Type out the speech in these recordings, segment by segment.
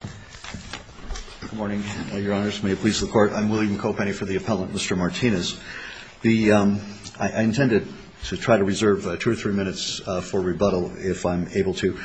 Good morning, your honors. May it please the court I'm William Cope for the Appellant Mr. Martinez. The I intended to try to reserve two or three minutes for rebuttal if I'm able to.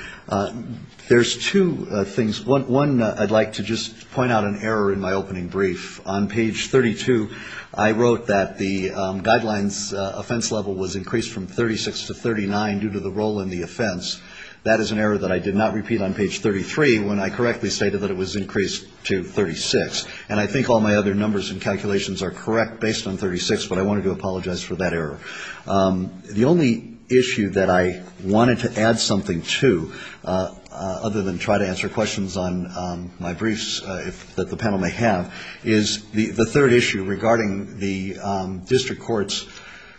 There's two things. One I'd like to just point out an error in my opening brief. On page 32 I wrote that the guidelines offense level was increased from 36 to 39 due to the role in the offense. That is an error that I did not repeat on page 33 when I correctly stated that it was increased to 36. And I think all my other numbers and calculations are correct based on 36. But I wanted to apologize for that error. The only issue that I wanted to add something to other than try to answer questions on my briefs that the panel may have, is the third issue regarding the district court's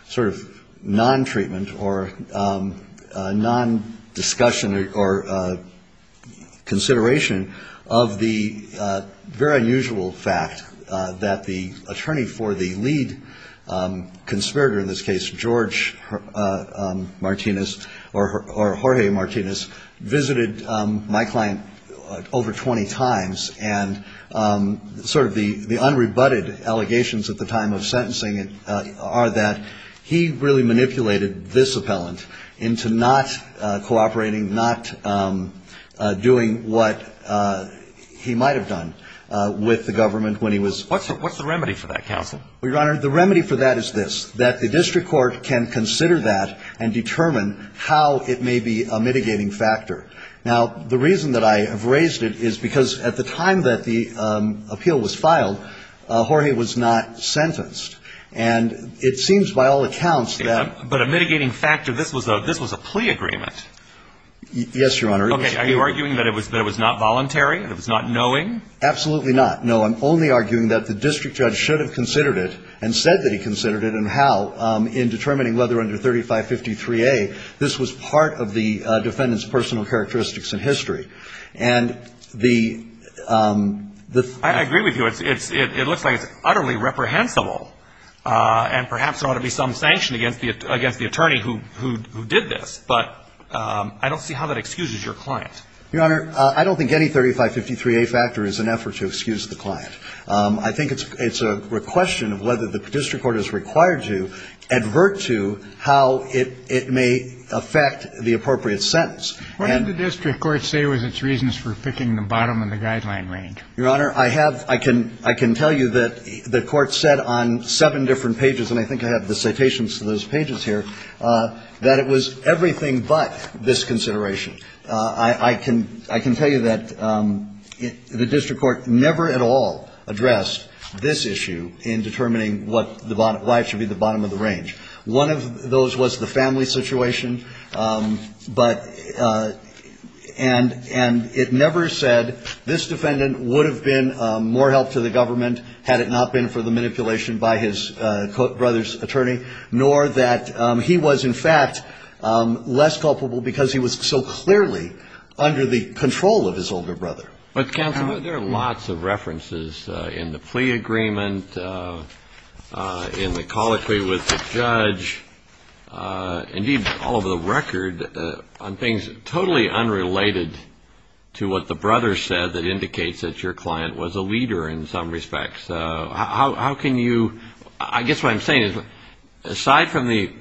sort of non-treatment or non-discussion or consideration of the very unusual fact that the attorney for the lead conspirator in this case, George Martinez or Jorge Martinez, visited my client over 20 times and sort of the unrebutted allegations at the time of sentencing are that he really manipulated this appellant into not cooperating, not doing what he might have done with the government when he was. What's the remedy for that counsel? Your Honor, the remedy for that is this, that the district court can consider that and determine how it may be a mitigating factor. Now, the reason that I have raised it is because at the time that the appeal was filed, Jorge was not sentenced. And it seems by all accounts that. But a mitigating factor, this was a plea agreement. Yes, Your Honor. Okay, are you arguing that it was not voluntary, that it was not knowing? Absolutely not. No, I'm only arguing that the district judge should have considered it and said that he considered it and how in determining whether under 3553A, this was part of the defendant's personal characteristics and history. And the. I agree with you, it looks like it's utterly reprehensible and perhaps there ought to be some sanction against the attorney who did this. But I don't see how that excuses your client. Your Honor, I don't think any 3553A factor is an effort to excuse the client. I think it's a question of whether the district court is required to advert to how it may affect the appropriate sentence. What did the district court say was its reasons for picking the bottom of the guideline range? Your Honor, I have, I can tell you that the court said on seven different pages, and I think I have the citations to those pages here, that it was everything but this consideration. I can tell you that the district court never at all addressed this issue in determining what the bottom, why it should be the bottom of the range. One of those was the family situation, but, and it never said this defendant would have been more help to the government had it not been for the manipulation by his brother's attorney, nor that he was in fact less culpable because he was so clearly under the control of his older brother. But counsel, there are lots of references in the plea agreement, in the colloquy with the judge, indeed all over the record, on things totally unrelated to what the brother said that indicates that your client was a leader in some respects. How can you, I guess what I'm saying is, aside from the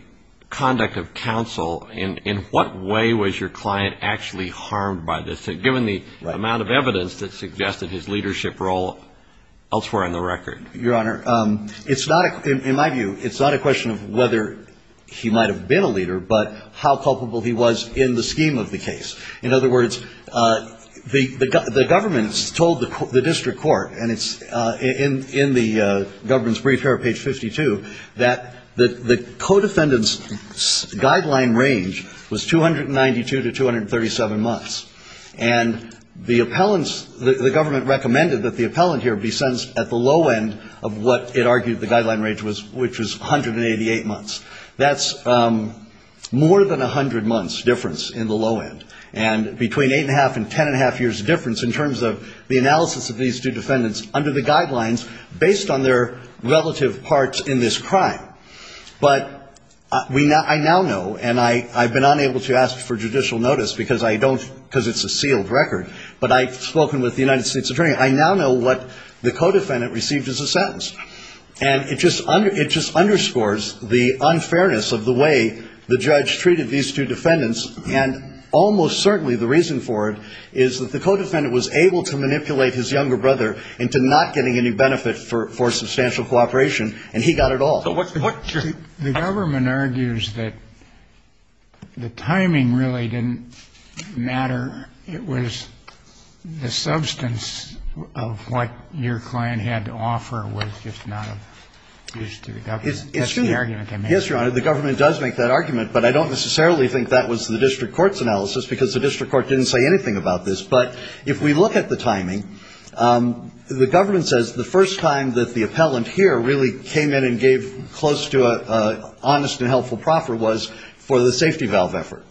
conduct of counsel, in what way was your client actually harmed by this, given the amount of evidence that suggested his leadership role elsewhere in the record? Your Honor, it's not, in my view, it's not a question of whether he might have been a leader, but how culpable he was in the scheme of the case. In other words, the government's told the district court, and it's in the government's brief here, page 52, that the codefendant's guideline range was 292 to 237 months. And the appellant's, the government recommended that the appellant here be sentenced at the low end of what it argued the guideline range was, which was 188 months. That's more than 100 months difference in the low end. And between 8.5 and 10.5 years difference in terms of the analysis of these two defendants under the guidelines based on their relative parts in this crime. But I now know, and I've been unable to ask for judicial notice because it's a sealed record, but I've spoken with the United States Attorney, I now know what the codefendant received as a sentence. And it just underscores the unfairness of the way the judge treated these two defendants. And almost certainly the reason for it is that the codefendant was able to manipulate his younger brother into not getting any benefit for substantial cooperation, and he got it all. So what's your- The government argues that the timing really didn't matter. It was the substance of what your client had to offer was just not of use to the government. That's the argument I'm making. Yes, Your Honor, the government does make that argument, but I don't necessarily think that was the district court's analysis because the district court didn't say anything about this. But if we look at the timing, the government says the first time that the appellant here really came in and gave close to an honest and helpful proffer was for the safety valve effort,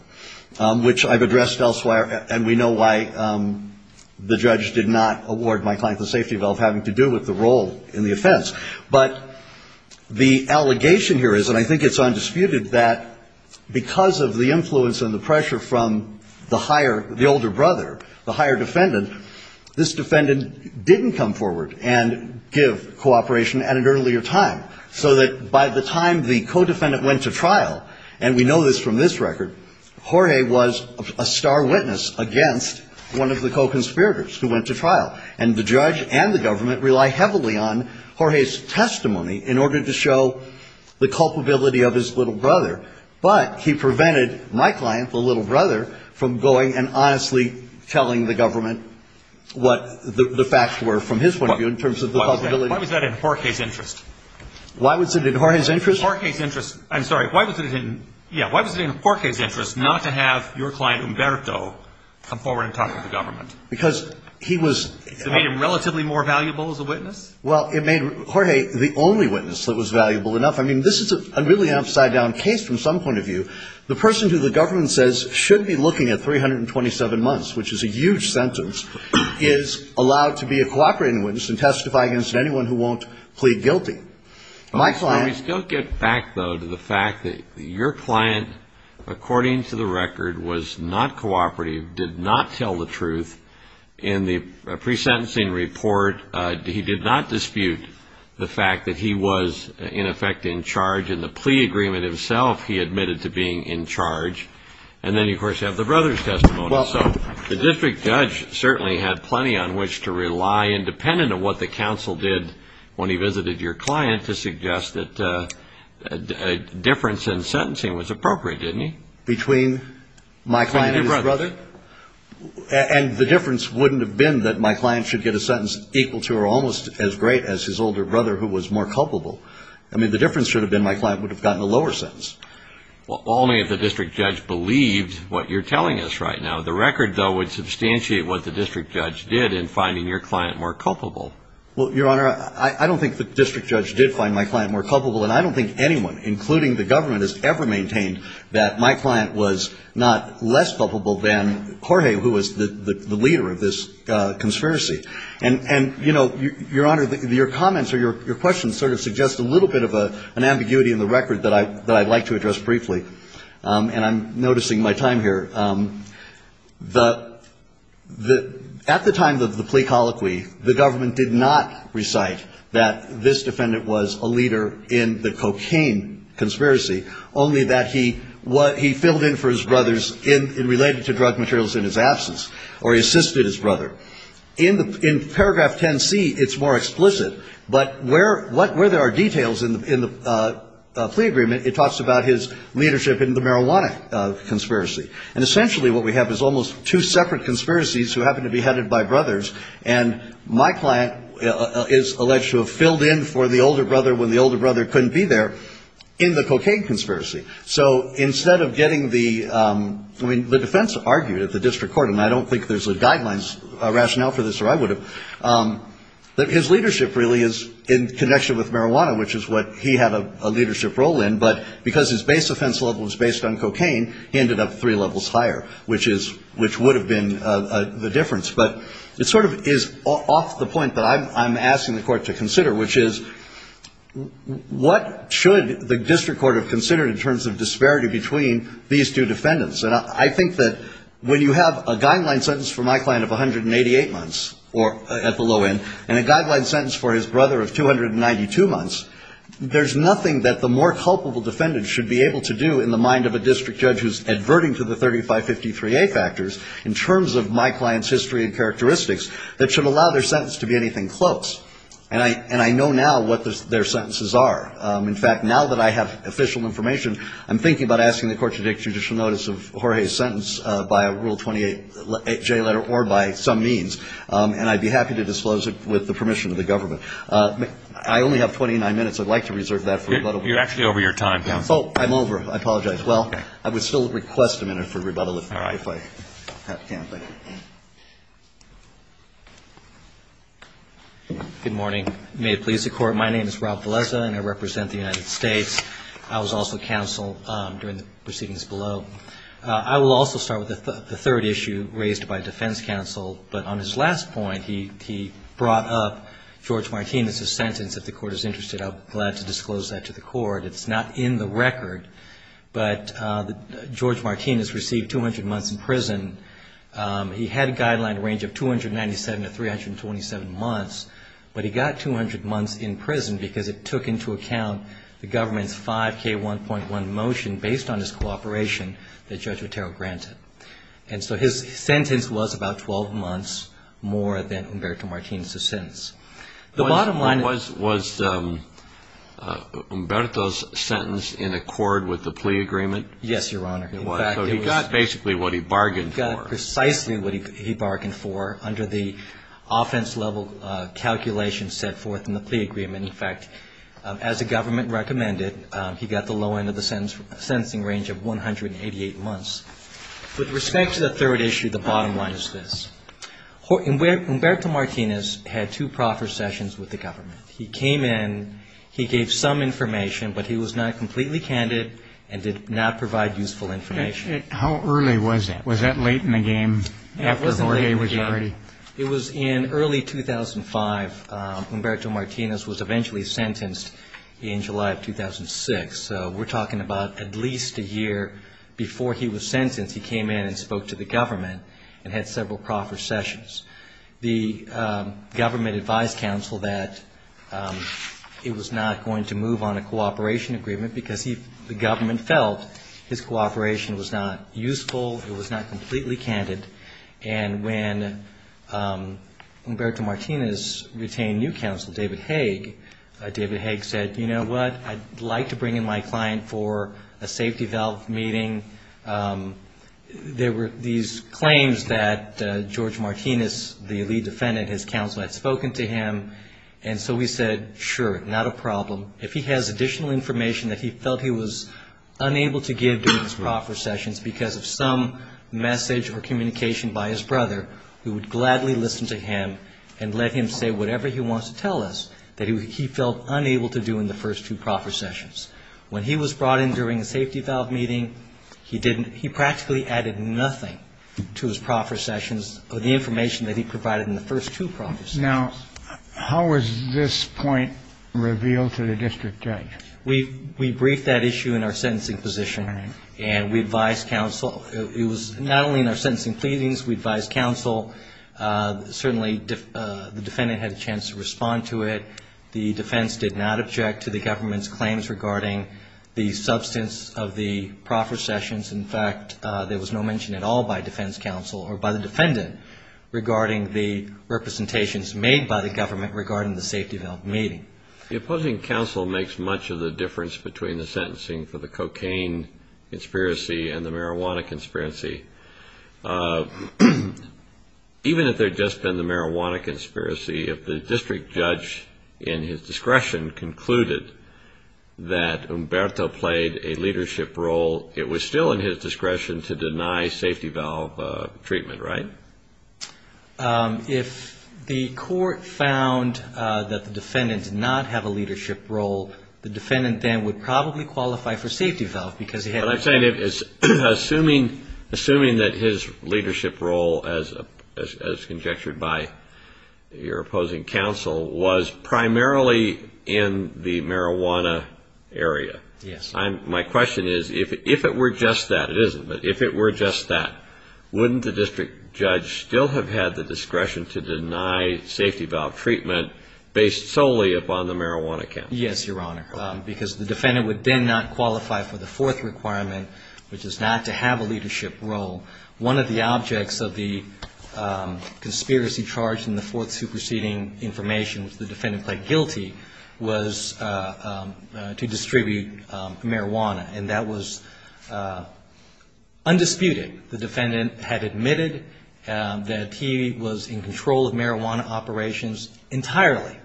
which I've addressed elsewhere and we know why the judge did not award my client the safety valve having to do with the role in the offense. But the allegation here is, and I think it's undisputed, that because of the influence and the pressure from the older brother, the higher defendant, this defendant didn't come forward and give cooperation at an earlier time. So that by the time the codefendant went to trial, and we know this from this record, Jorge was a star witness against one of the co-conspirators who went to trial. And the judge and the government rely heavily on Jorge's testimony in order to show the culpability of his little brother. But he prevented my client, the little brother, from going and honestly telling the government what the facts were from his point of view in terms of the culpability. Why was that in Jorge's interest? Why was it in Jorge's interest? I'm sorry. Why was it in Jorge's interest not to have your client, Humberto, come forward and talk to the government? Because he was... It made him relatively more valuable as a witness? Well, it made Jorge the only witness that was valuable enough. I mean, this is a really upside down case from some point of view. The person who the government says should be looking at 327 months, which is a huge sentence, is allowed to be a cooperating witness and testify against anyone who won't plead guilty. My client... Let me still get back, though, to the fact that your client, according to the record, was not cooperative, did not tell the truth. In the pre-sentencing report, he did not dispute the fact that he was, in effect, in charge. In the plea agreement himself, he admitted to being in charge. And then, of course, you have the brother's testimony. So the district judge certainly had plenty on which to rely, independent of what the counsel did when he visited your client, to suggest that a difference in sentencing was appropriate, didn't he? Between my client and his brother? And the difference wouldn't have been that my client should get a sentence equal to or almost as great as his older brother, who was more culpable. I mean, the difference should have been my client would have gotten a lower sentence. Well, only if the district judge believed what you're telling us right now. The record, though, would substantiate what the district judge did in finding your client more culpable. Well, Your Honor, I don't think the district judge did find my client more culpable. And I don't think anyone, including the government, has ever maintained that my client was not less culpable than Jorge, who was the leader of this conspiracy. And, you know, Your Honor, your comments or your questions sort of suggest a little bit of an ambiguity in the record that I'd like to address briefly. And I'm noticing my time here. At the time of the plea colloquy, the government did not recite that this defendant was a leader in the cocaine conspiracy, only that he filled in for his brothers in related to drug materials in his absence, or he assisted his brother. In paragraph 10C, it's more explicit, but where there are details in the plea agreement, it talks about his leadership in the marijuana conspiracy. And essentially what we have is almost two separate conspiracies who happen to be headed by brothers. And my client is alleged to have filled in for the older brother when the older brother couldn't be there in the cocaine conspiracy. So instead of getting the, I mean, the defense argued at the district court, and I don't think there's a guidelines rationale for this or I would have, that his leadership really is in connection with marijuana, which is what he had a leadership role in. But because his base offense level was based on cocaine, he ended up three levels higher, which would have been the difference. But it sort of is off the point that I'm asking the court to consider, which is what should the district court have considered in terms of disparity between these two defendants? And I think that when you have a guideline sentence for my client of 188 months or at the low end, and a guideline sentence for his brother of 292 months, there's nothing that the more culpable defendant should be able to do in the mind of a district judge who's adverting to the 3553A factors in terms of my client's history and characteristics that should allow their sentence to be anything close. And I know now what their sentences are. In fact, now that I have official information, by a Rule 28J letter or by some means. And I'd be happy to disclose it with the permission of the government. I only have 29 minutes. I'd like to reserve that for rebuttal. You're actually over your time, counsel. Oh, I'm over. I apologize. Well, I would still request a minute for rebuttal if I can. Good morning. May it please the court. My name is Rob Velezza and I represent the United States. I was also counsel during the proceedings below. I will also start with the third issue raised by defense counsel. But on his last point, he brought up George Martinez's sentence. If the court is interested, I'll be glad to disclose that to the court. It's not in the record. But George Martinez received 200 months in prison. He had a guideline range of 297 to 327 months. But he got 200 months in prison because it took into account the government's 5K1.1 motion based on his cooperation that Judge Ruttero granted. And so his sentence was about 12 months more than Humberto Martinez's sentence. Was Humberto's sentence in accord with the plea agreement? Yes, Your Honor. It was. So he got basically what he bargained for. He got precisely what he bargained for under the offense level calculation set forth in the plea agreement. In fact, as the government recommended, he got the low end of the sentencing range of 188 months. With respect to the third issue, the bottom line is this. Humberto Martinez had two proper sessions with the government. He came in. He gave some information. But he was not completely candid and did not provide useful information. How early was that? Was that late in the game after Jorge was already? It was in early 2005. Humberto Martinez was eventually sentenced in July of 2006. So we're talking about at least a year before he was sentenced, he came in and spoke to the government and had several proper sessions. The government advised counsel that he was not going to move on a cooperation agreement because the government felt his cooperation was not useful, it was not completely candid. And when Humberto Martinez retained new counsel, David Haig, David Haig said, you know what, I'd like to bring in my client for a safety valve meeting. There were these claims that Jorge Martinez, the lead defendant, his counsel, had spoken to him. And so we said, sure, not a problem. If he has additional information that he felt he was unable to give during his proper sessions because of some message or communication by his brother, we would gladly listen to him and let him say whatever he wants to tell us that he felt unable to do in the first two proper sessions. When he was brought in during a safety valve meeting, he practically added nothing to his proper sessions of the information that he provided in the first two proper sessions. Now, how was this point revealed to the district judge? We briefed that issue in our sentencing position and we advised counsel. It was not only in our sentencing pleadings. We advised counsel. Certainly, the defendant had a chance to respond to it. The defense did not object to the government's claims regarding the substance of the proper sessions. In fact, there was no mention at all by defense counsel or by the defendant regarding the representations made by the government regarding the safety valve meeting. The opposing counsel makes much of the difference between the sentencing for the cocaine conspiracy and the marijuana conspiracy. Even if there had just been the marijuana conspiracy, if the district judge, in his discretion, concluded that Humberto played a leadership role, it was still in his discretion to deny safety valve treatment, right? If the court found that the defendant did not have a leadership role, the defendant then would probably qualify for safety valve because he had... But I'm saying, assuming that his leadership role, as conjectured by your opposing counsel, was primarily in the marijuana area. Yes. My question is, if it were just that, it isn't, but if it were just that, wouldn't the district judge still have had the discretion to deny safety valve treatment based solely upon the marijuana case? Yes, Your Honor, because the defendant would then not qualify for the fourth requirement, which is not to have a leadership role. One of the objects of the conspiracy charged in the fourth superseding information which the defendant played guilty was to distribute marijuana. And that was undisputed. The defendant had admitted that he was in control of marijuana operations entirely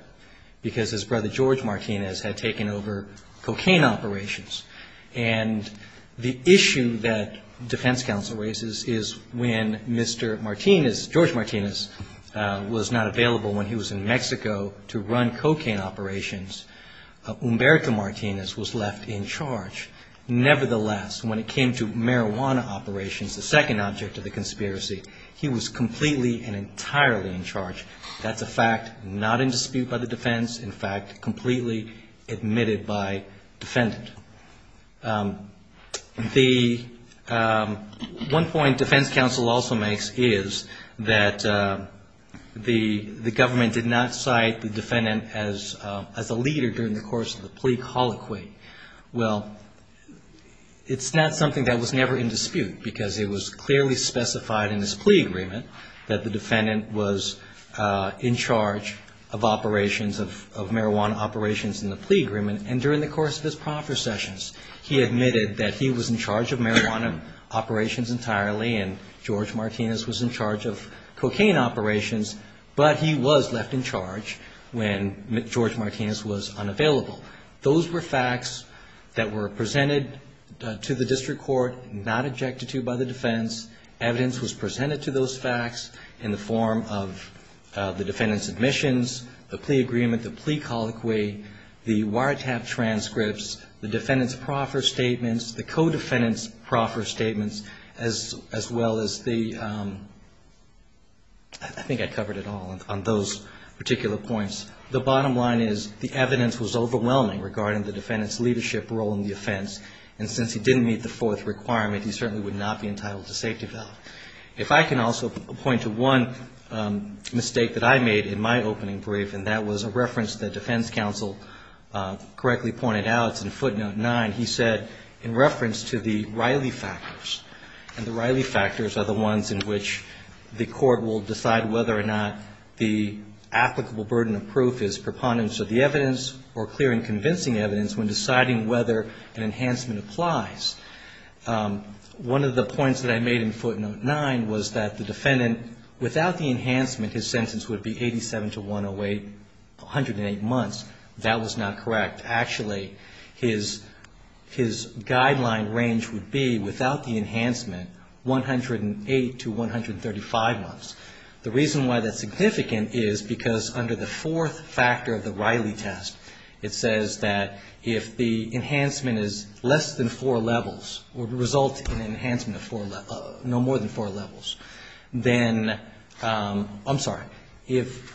because his brother, George Martinez, had taken over cocaine operations. And the issue that defense counsel raises is when Mr. Martinez, George Martinez, was not available when he was in Mexico to run cocaine operations, Humberto Martinez was left in charge. Nevertheless, when it came to marijuana operations, the second object of the conspiracy, he was completely and entirely in charge. That's a fact not in dispute by the defense. In fact, completely admitted by defendant. The one point defense counsel also makes is that the government did not cite the defendant as a leader during the course of the plea colloquy. Well, it's not something that was never in dispute because it was clearly specified in his plea agreement that the defendant was in charge of operations, of marijuana operations in the plea agreement. And during the course of his proffer sessions, he admitted that he was in charge of marijuana operations entirely and George Martinez was in charge of cocaine operations. But he was left in charge when George Martinez was unavailable. Those were facts that were presented to the district court, not objected to by the defense. Evidence was presented to those facts in the form of the defendant's admissions, the plea agreement, the plea colloquy, the wiretap transcripts, the defendant's proffer statements, the co-defendant's proffer statements, as well as the, I think I covered it all on those particular points. The bottom line is the evidence was overwhelming regarding the defendant's leadership role in the offense and since he didn't meet the fourth requirement, he certainly would not be entitled to safety bail. If I can also point to one mistake that I made in my opening brief and that was a reference that defense counsel correctly pointed out, in footnote nine, he said in reference to the Riley factors. And the Riley factors are the ones in which the court will decide whether or not the applicable burden of proof is preponderance of the evidence or clear and convincing evidence when deciding whether an enhancement applies. One of the points that I made in footnote nine was that the defendant, without the enhancement, his sentence would be 87 to 108, 108 months. That was not correct. Actually, his guideline range would be, without the enhancement, 108 to 135 months. The reason why that's significant is because under the fourth factor of the Riley test, it says that if the enhancement is less than four levels or results in an enhancement of no more than four levels, then, I'm sorry, if,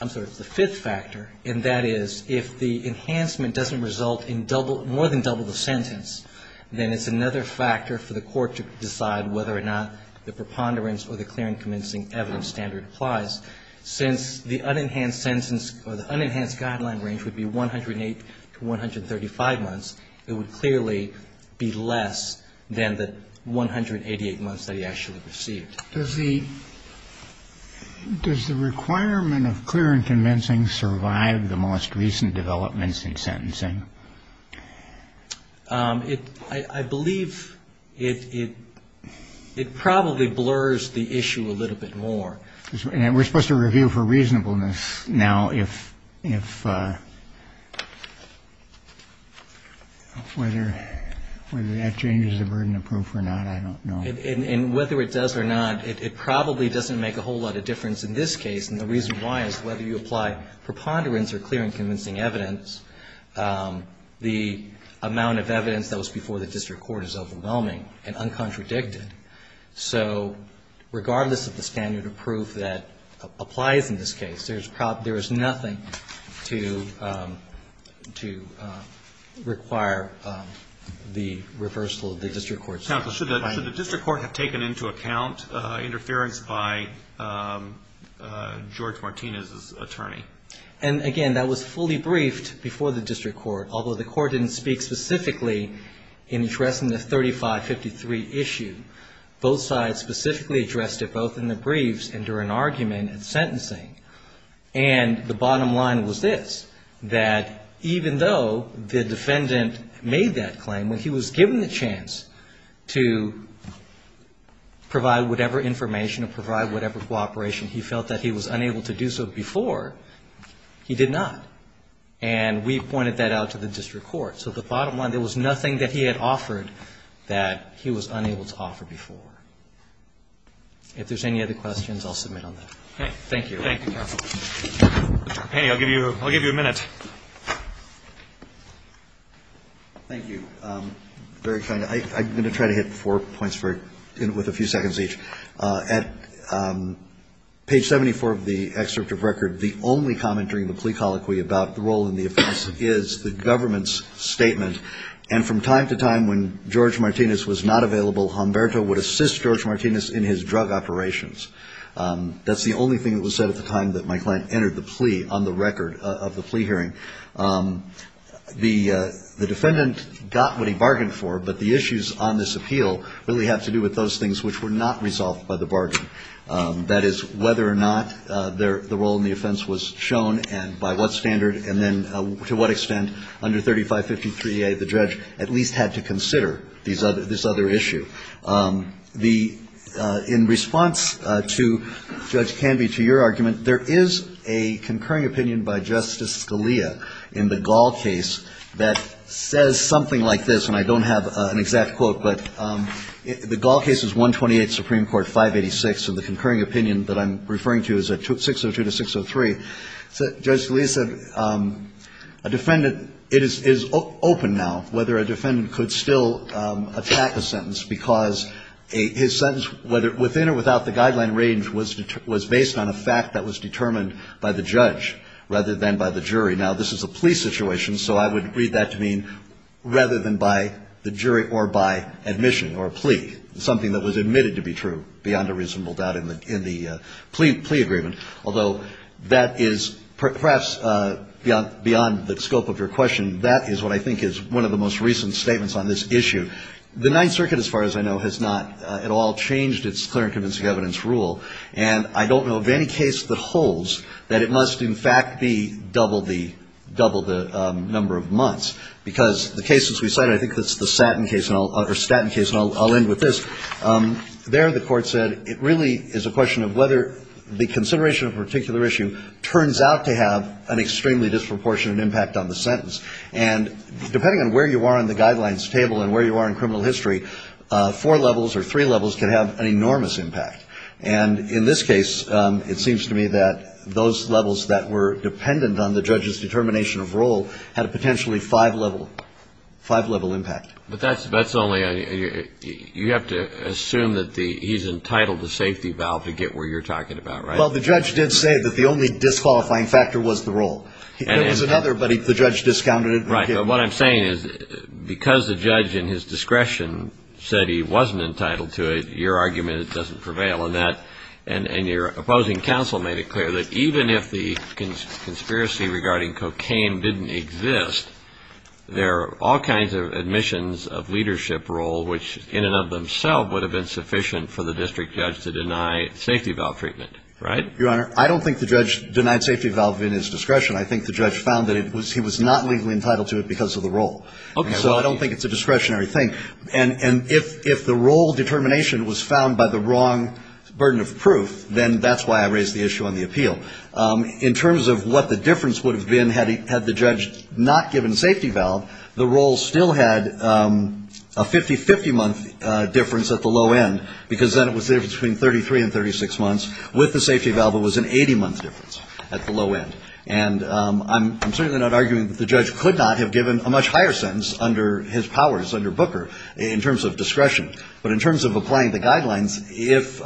I'm sorry, it's the fifth factor, and that is, if the enhancement doesn't result in more than double the sentence, then it's another factor for the court to decide whether or not the preponderance or the clear and convincing evidence standard applies. Since the unenhanced sentence or the unenhanced guideline range would be 108 to 135 months, it would clearly be less than the 188 months that he actually received. Does the requirement of clear and convincing survive the most recent developments in sentencing? I believe it probably blurs the issue a little bit more. We're supposed to review for reasonableness now if whether that changes the burden of proof or not, I don't know. And whether it does or not, it probably doesn't make a whole lot of difference in this case, and the reason why is whether you apply preponderance or clear and convincing evidence, the amount of evidence that was before the district court is overwhelming and uncontradicted. So regardless of the standard of proof that applies in this case, there is nothing to require the reversal of the district court's claim. Should the district court have taken into account interference by George Martinez's attorney? And again, that was fully briefed before the district court, although the court didn't speak specifically in addressing the 3553 issue. Both sides specifically addressed it both in the briefs and during argument and sentencing. And the bottom line was this, that even though the defendant made that claim, when he was given the chance to provide whatever information or provide whatever cooperation, he felt that he was unable to do so before, he did not. And we pointed that out to the district court. So the bottom line, there was nothing that he had offered that he was unable to offer before. If there's any other questions, I'll submit on that. Thank you. Thank you, counsel. Penny, I'll give you a minute. Thank you. Very kind. I'm going to try to hit four points with a few seconds each. At page 74 of the excerpt of record, the only comment during the plea colloquy about the role in the offense is the government's statement. And from time to time when George Martinez was not available, Humberto would assist George Martinez in his drug operations. That's the only thing that was said at the time that my client entered the plea on the record of the plea hearing. The defendant got what he bargained for, but the issues on this appeal really have to do with those things which were not resolved by the bargain. That is, whether or not the role in the offense was shown and by what standard and then to what extent under 3553A the judge at least had to consider this other issue. In response to Judge Canby, to your argument, there is a concurring opinion by Justice Scalia in the Gall case that says something like this, and I don't have an exact quote, but the Gall case is 128 Supreme Court 586 and the concurring opinion that I'm referring to is 602 to 603. Judge Scalia said a defendant, it is open now whether a defendant could still attack a sentence because his sentence, within or without the guideline range, was based on a fact that was determined by the judge rather than by the jury. Now, this is a plea situation, so I would read that to mean rather than by the jury or by admission or plea, something that was admitted to be true beyond a reasonable doubt in the plea agreement, although that is perhaps beyond the scope of your question, that is what I think is one of the most recent statements on this issue. The Ninth Circuit, as far as I know, has not at all changed its clear and convincing evidence rule and I don't know of any case that holds that it must in fact be double the number of months because the cases we cited, I think it's the Stanton case and I'll end with this, there the court said it really is a question of whether the consideration of a particular issue turns out to have an extremely disproportionate impact on the sentence and depending on where you are on the guidelines table and where you are in criminal history, four levels or three levels can have an enormous impact and in this case, it seems to me that those levels that were dependent on the judge's determination of role had a potentially five level impact. But that's only, you have to assume that he's entitled to safety valve to get where you're talking about, right? Well, the judge did say that the only disqualifying factor was the role. There was another, but the judge discounted it. Right, but what I'm saying is because the judge in his discretion said he wasn't entitled to it, your argument doesn't prevail on that and your opposing counsel made it clear that even if the conspiracy regarding cocaine didn't exist, there are all kinds of admissions of leadership role which in and of themselves would have been sufficient for the district judge to deny safety valve treatment. Right? Your Honor, I don't think the judge denied safety valve in his discretion. I think the judge found that he was not legally entitled to it because of the role. So I don't think it's a discretionary thing and if the role determination was found by the wrong burden of proof, then that's why I raised the issue on the appeal. In terms of what the difference would have been had the judge not given safety valve, the role still had a 50-50 month difference at the low end because then it was there between 33 and 36 months with the safety valve it was an 80 month difference at the low end. And I'm certainly not arguing that the judge could not have given a much higher sentence under his powers under Booker in terms of discretion. But in terms of applying the guidelines, if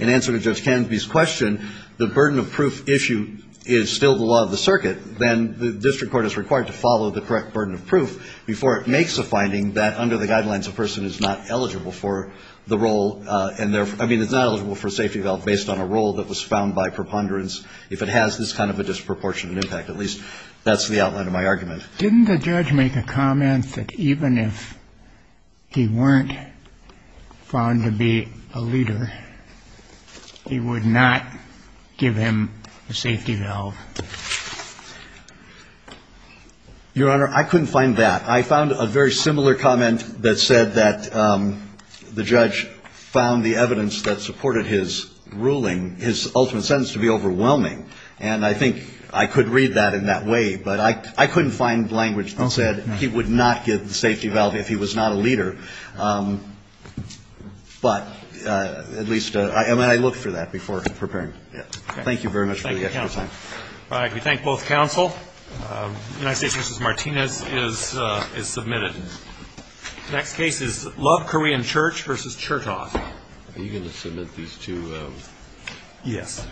in answer to Judge Canopy's question, the burden of proof issue is still the law of the circuit, then the district court is required to follow the correct burden of proof before it makes a finding that under the guidelines a person is not eligible for the role and therefore I mean it's not eligible for a safety valve based on a role that was found by preponderance. If it has this kind of a disproportionate impact, at least that's the outline of my argument. Didn't the judge make a comment that even if he weren't found to be a leader, he would not give him a safety valve? Your Honor, I couldn't find that. I found a very similar comment that said that the judge found the evidence that supported his ruling, his ultimate sentence, to be overwhelming. And I think I could read that in that way, but I couldn't find language that said he would not give the safety valve if he was not a leader. But at least I looked for that before preparing. Thank you very much for your time. We thank both counsel. United States v. Martinez is submitted. Next case is Love Korean Church v. Chertoff. Are you going to submit these two? Yes. Mr. Kim?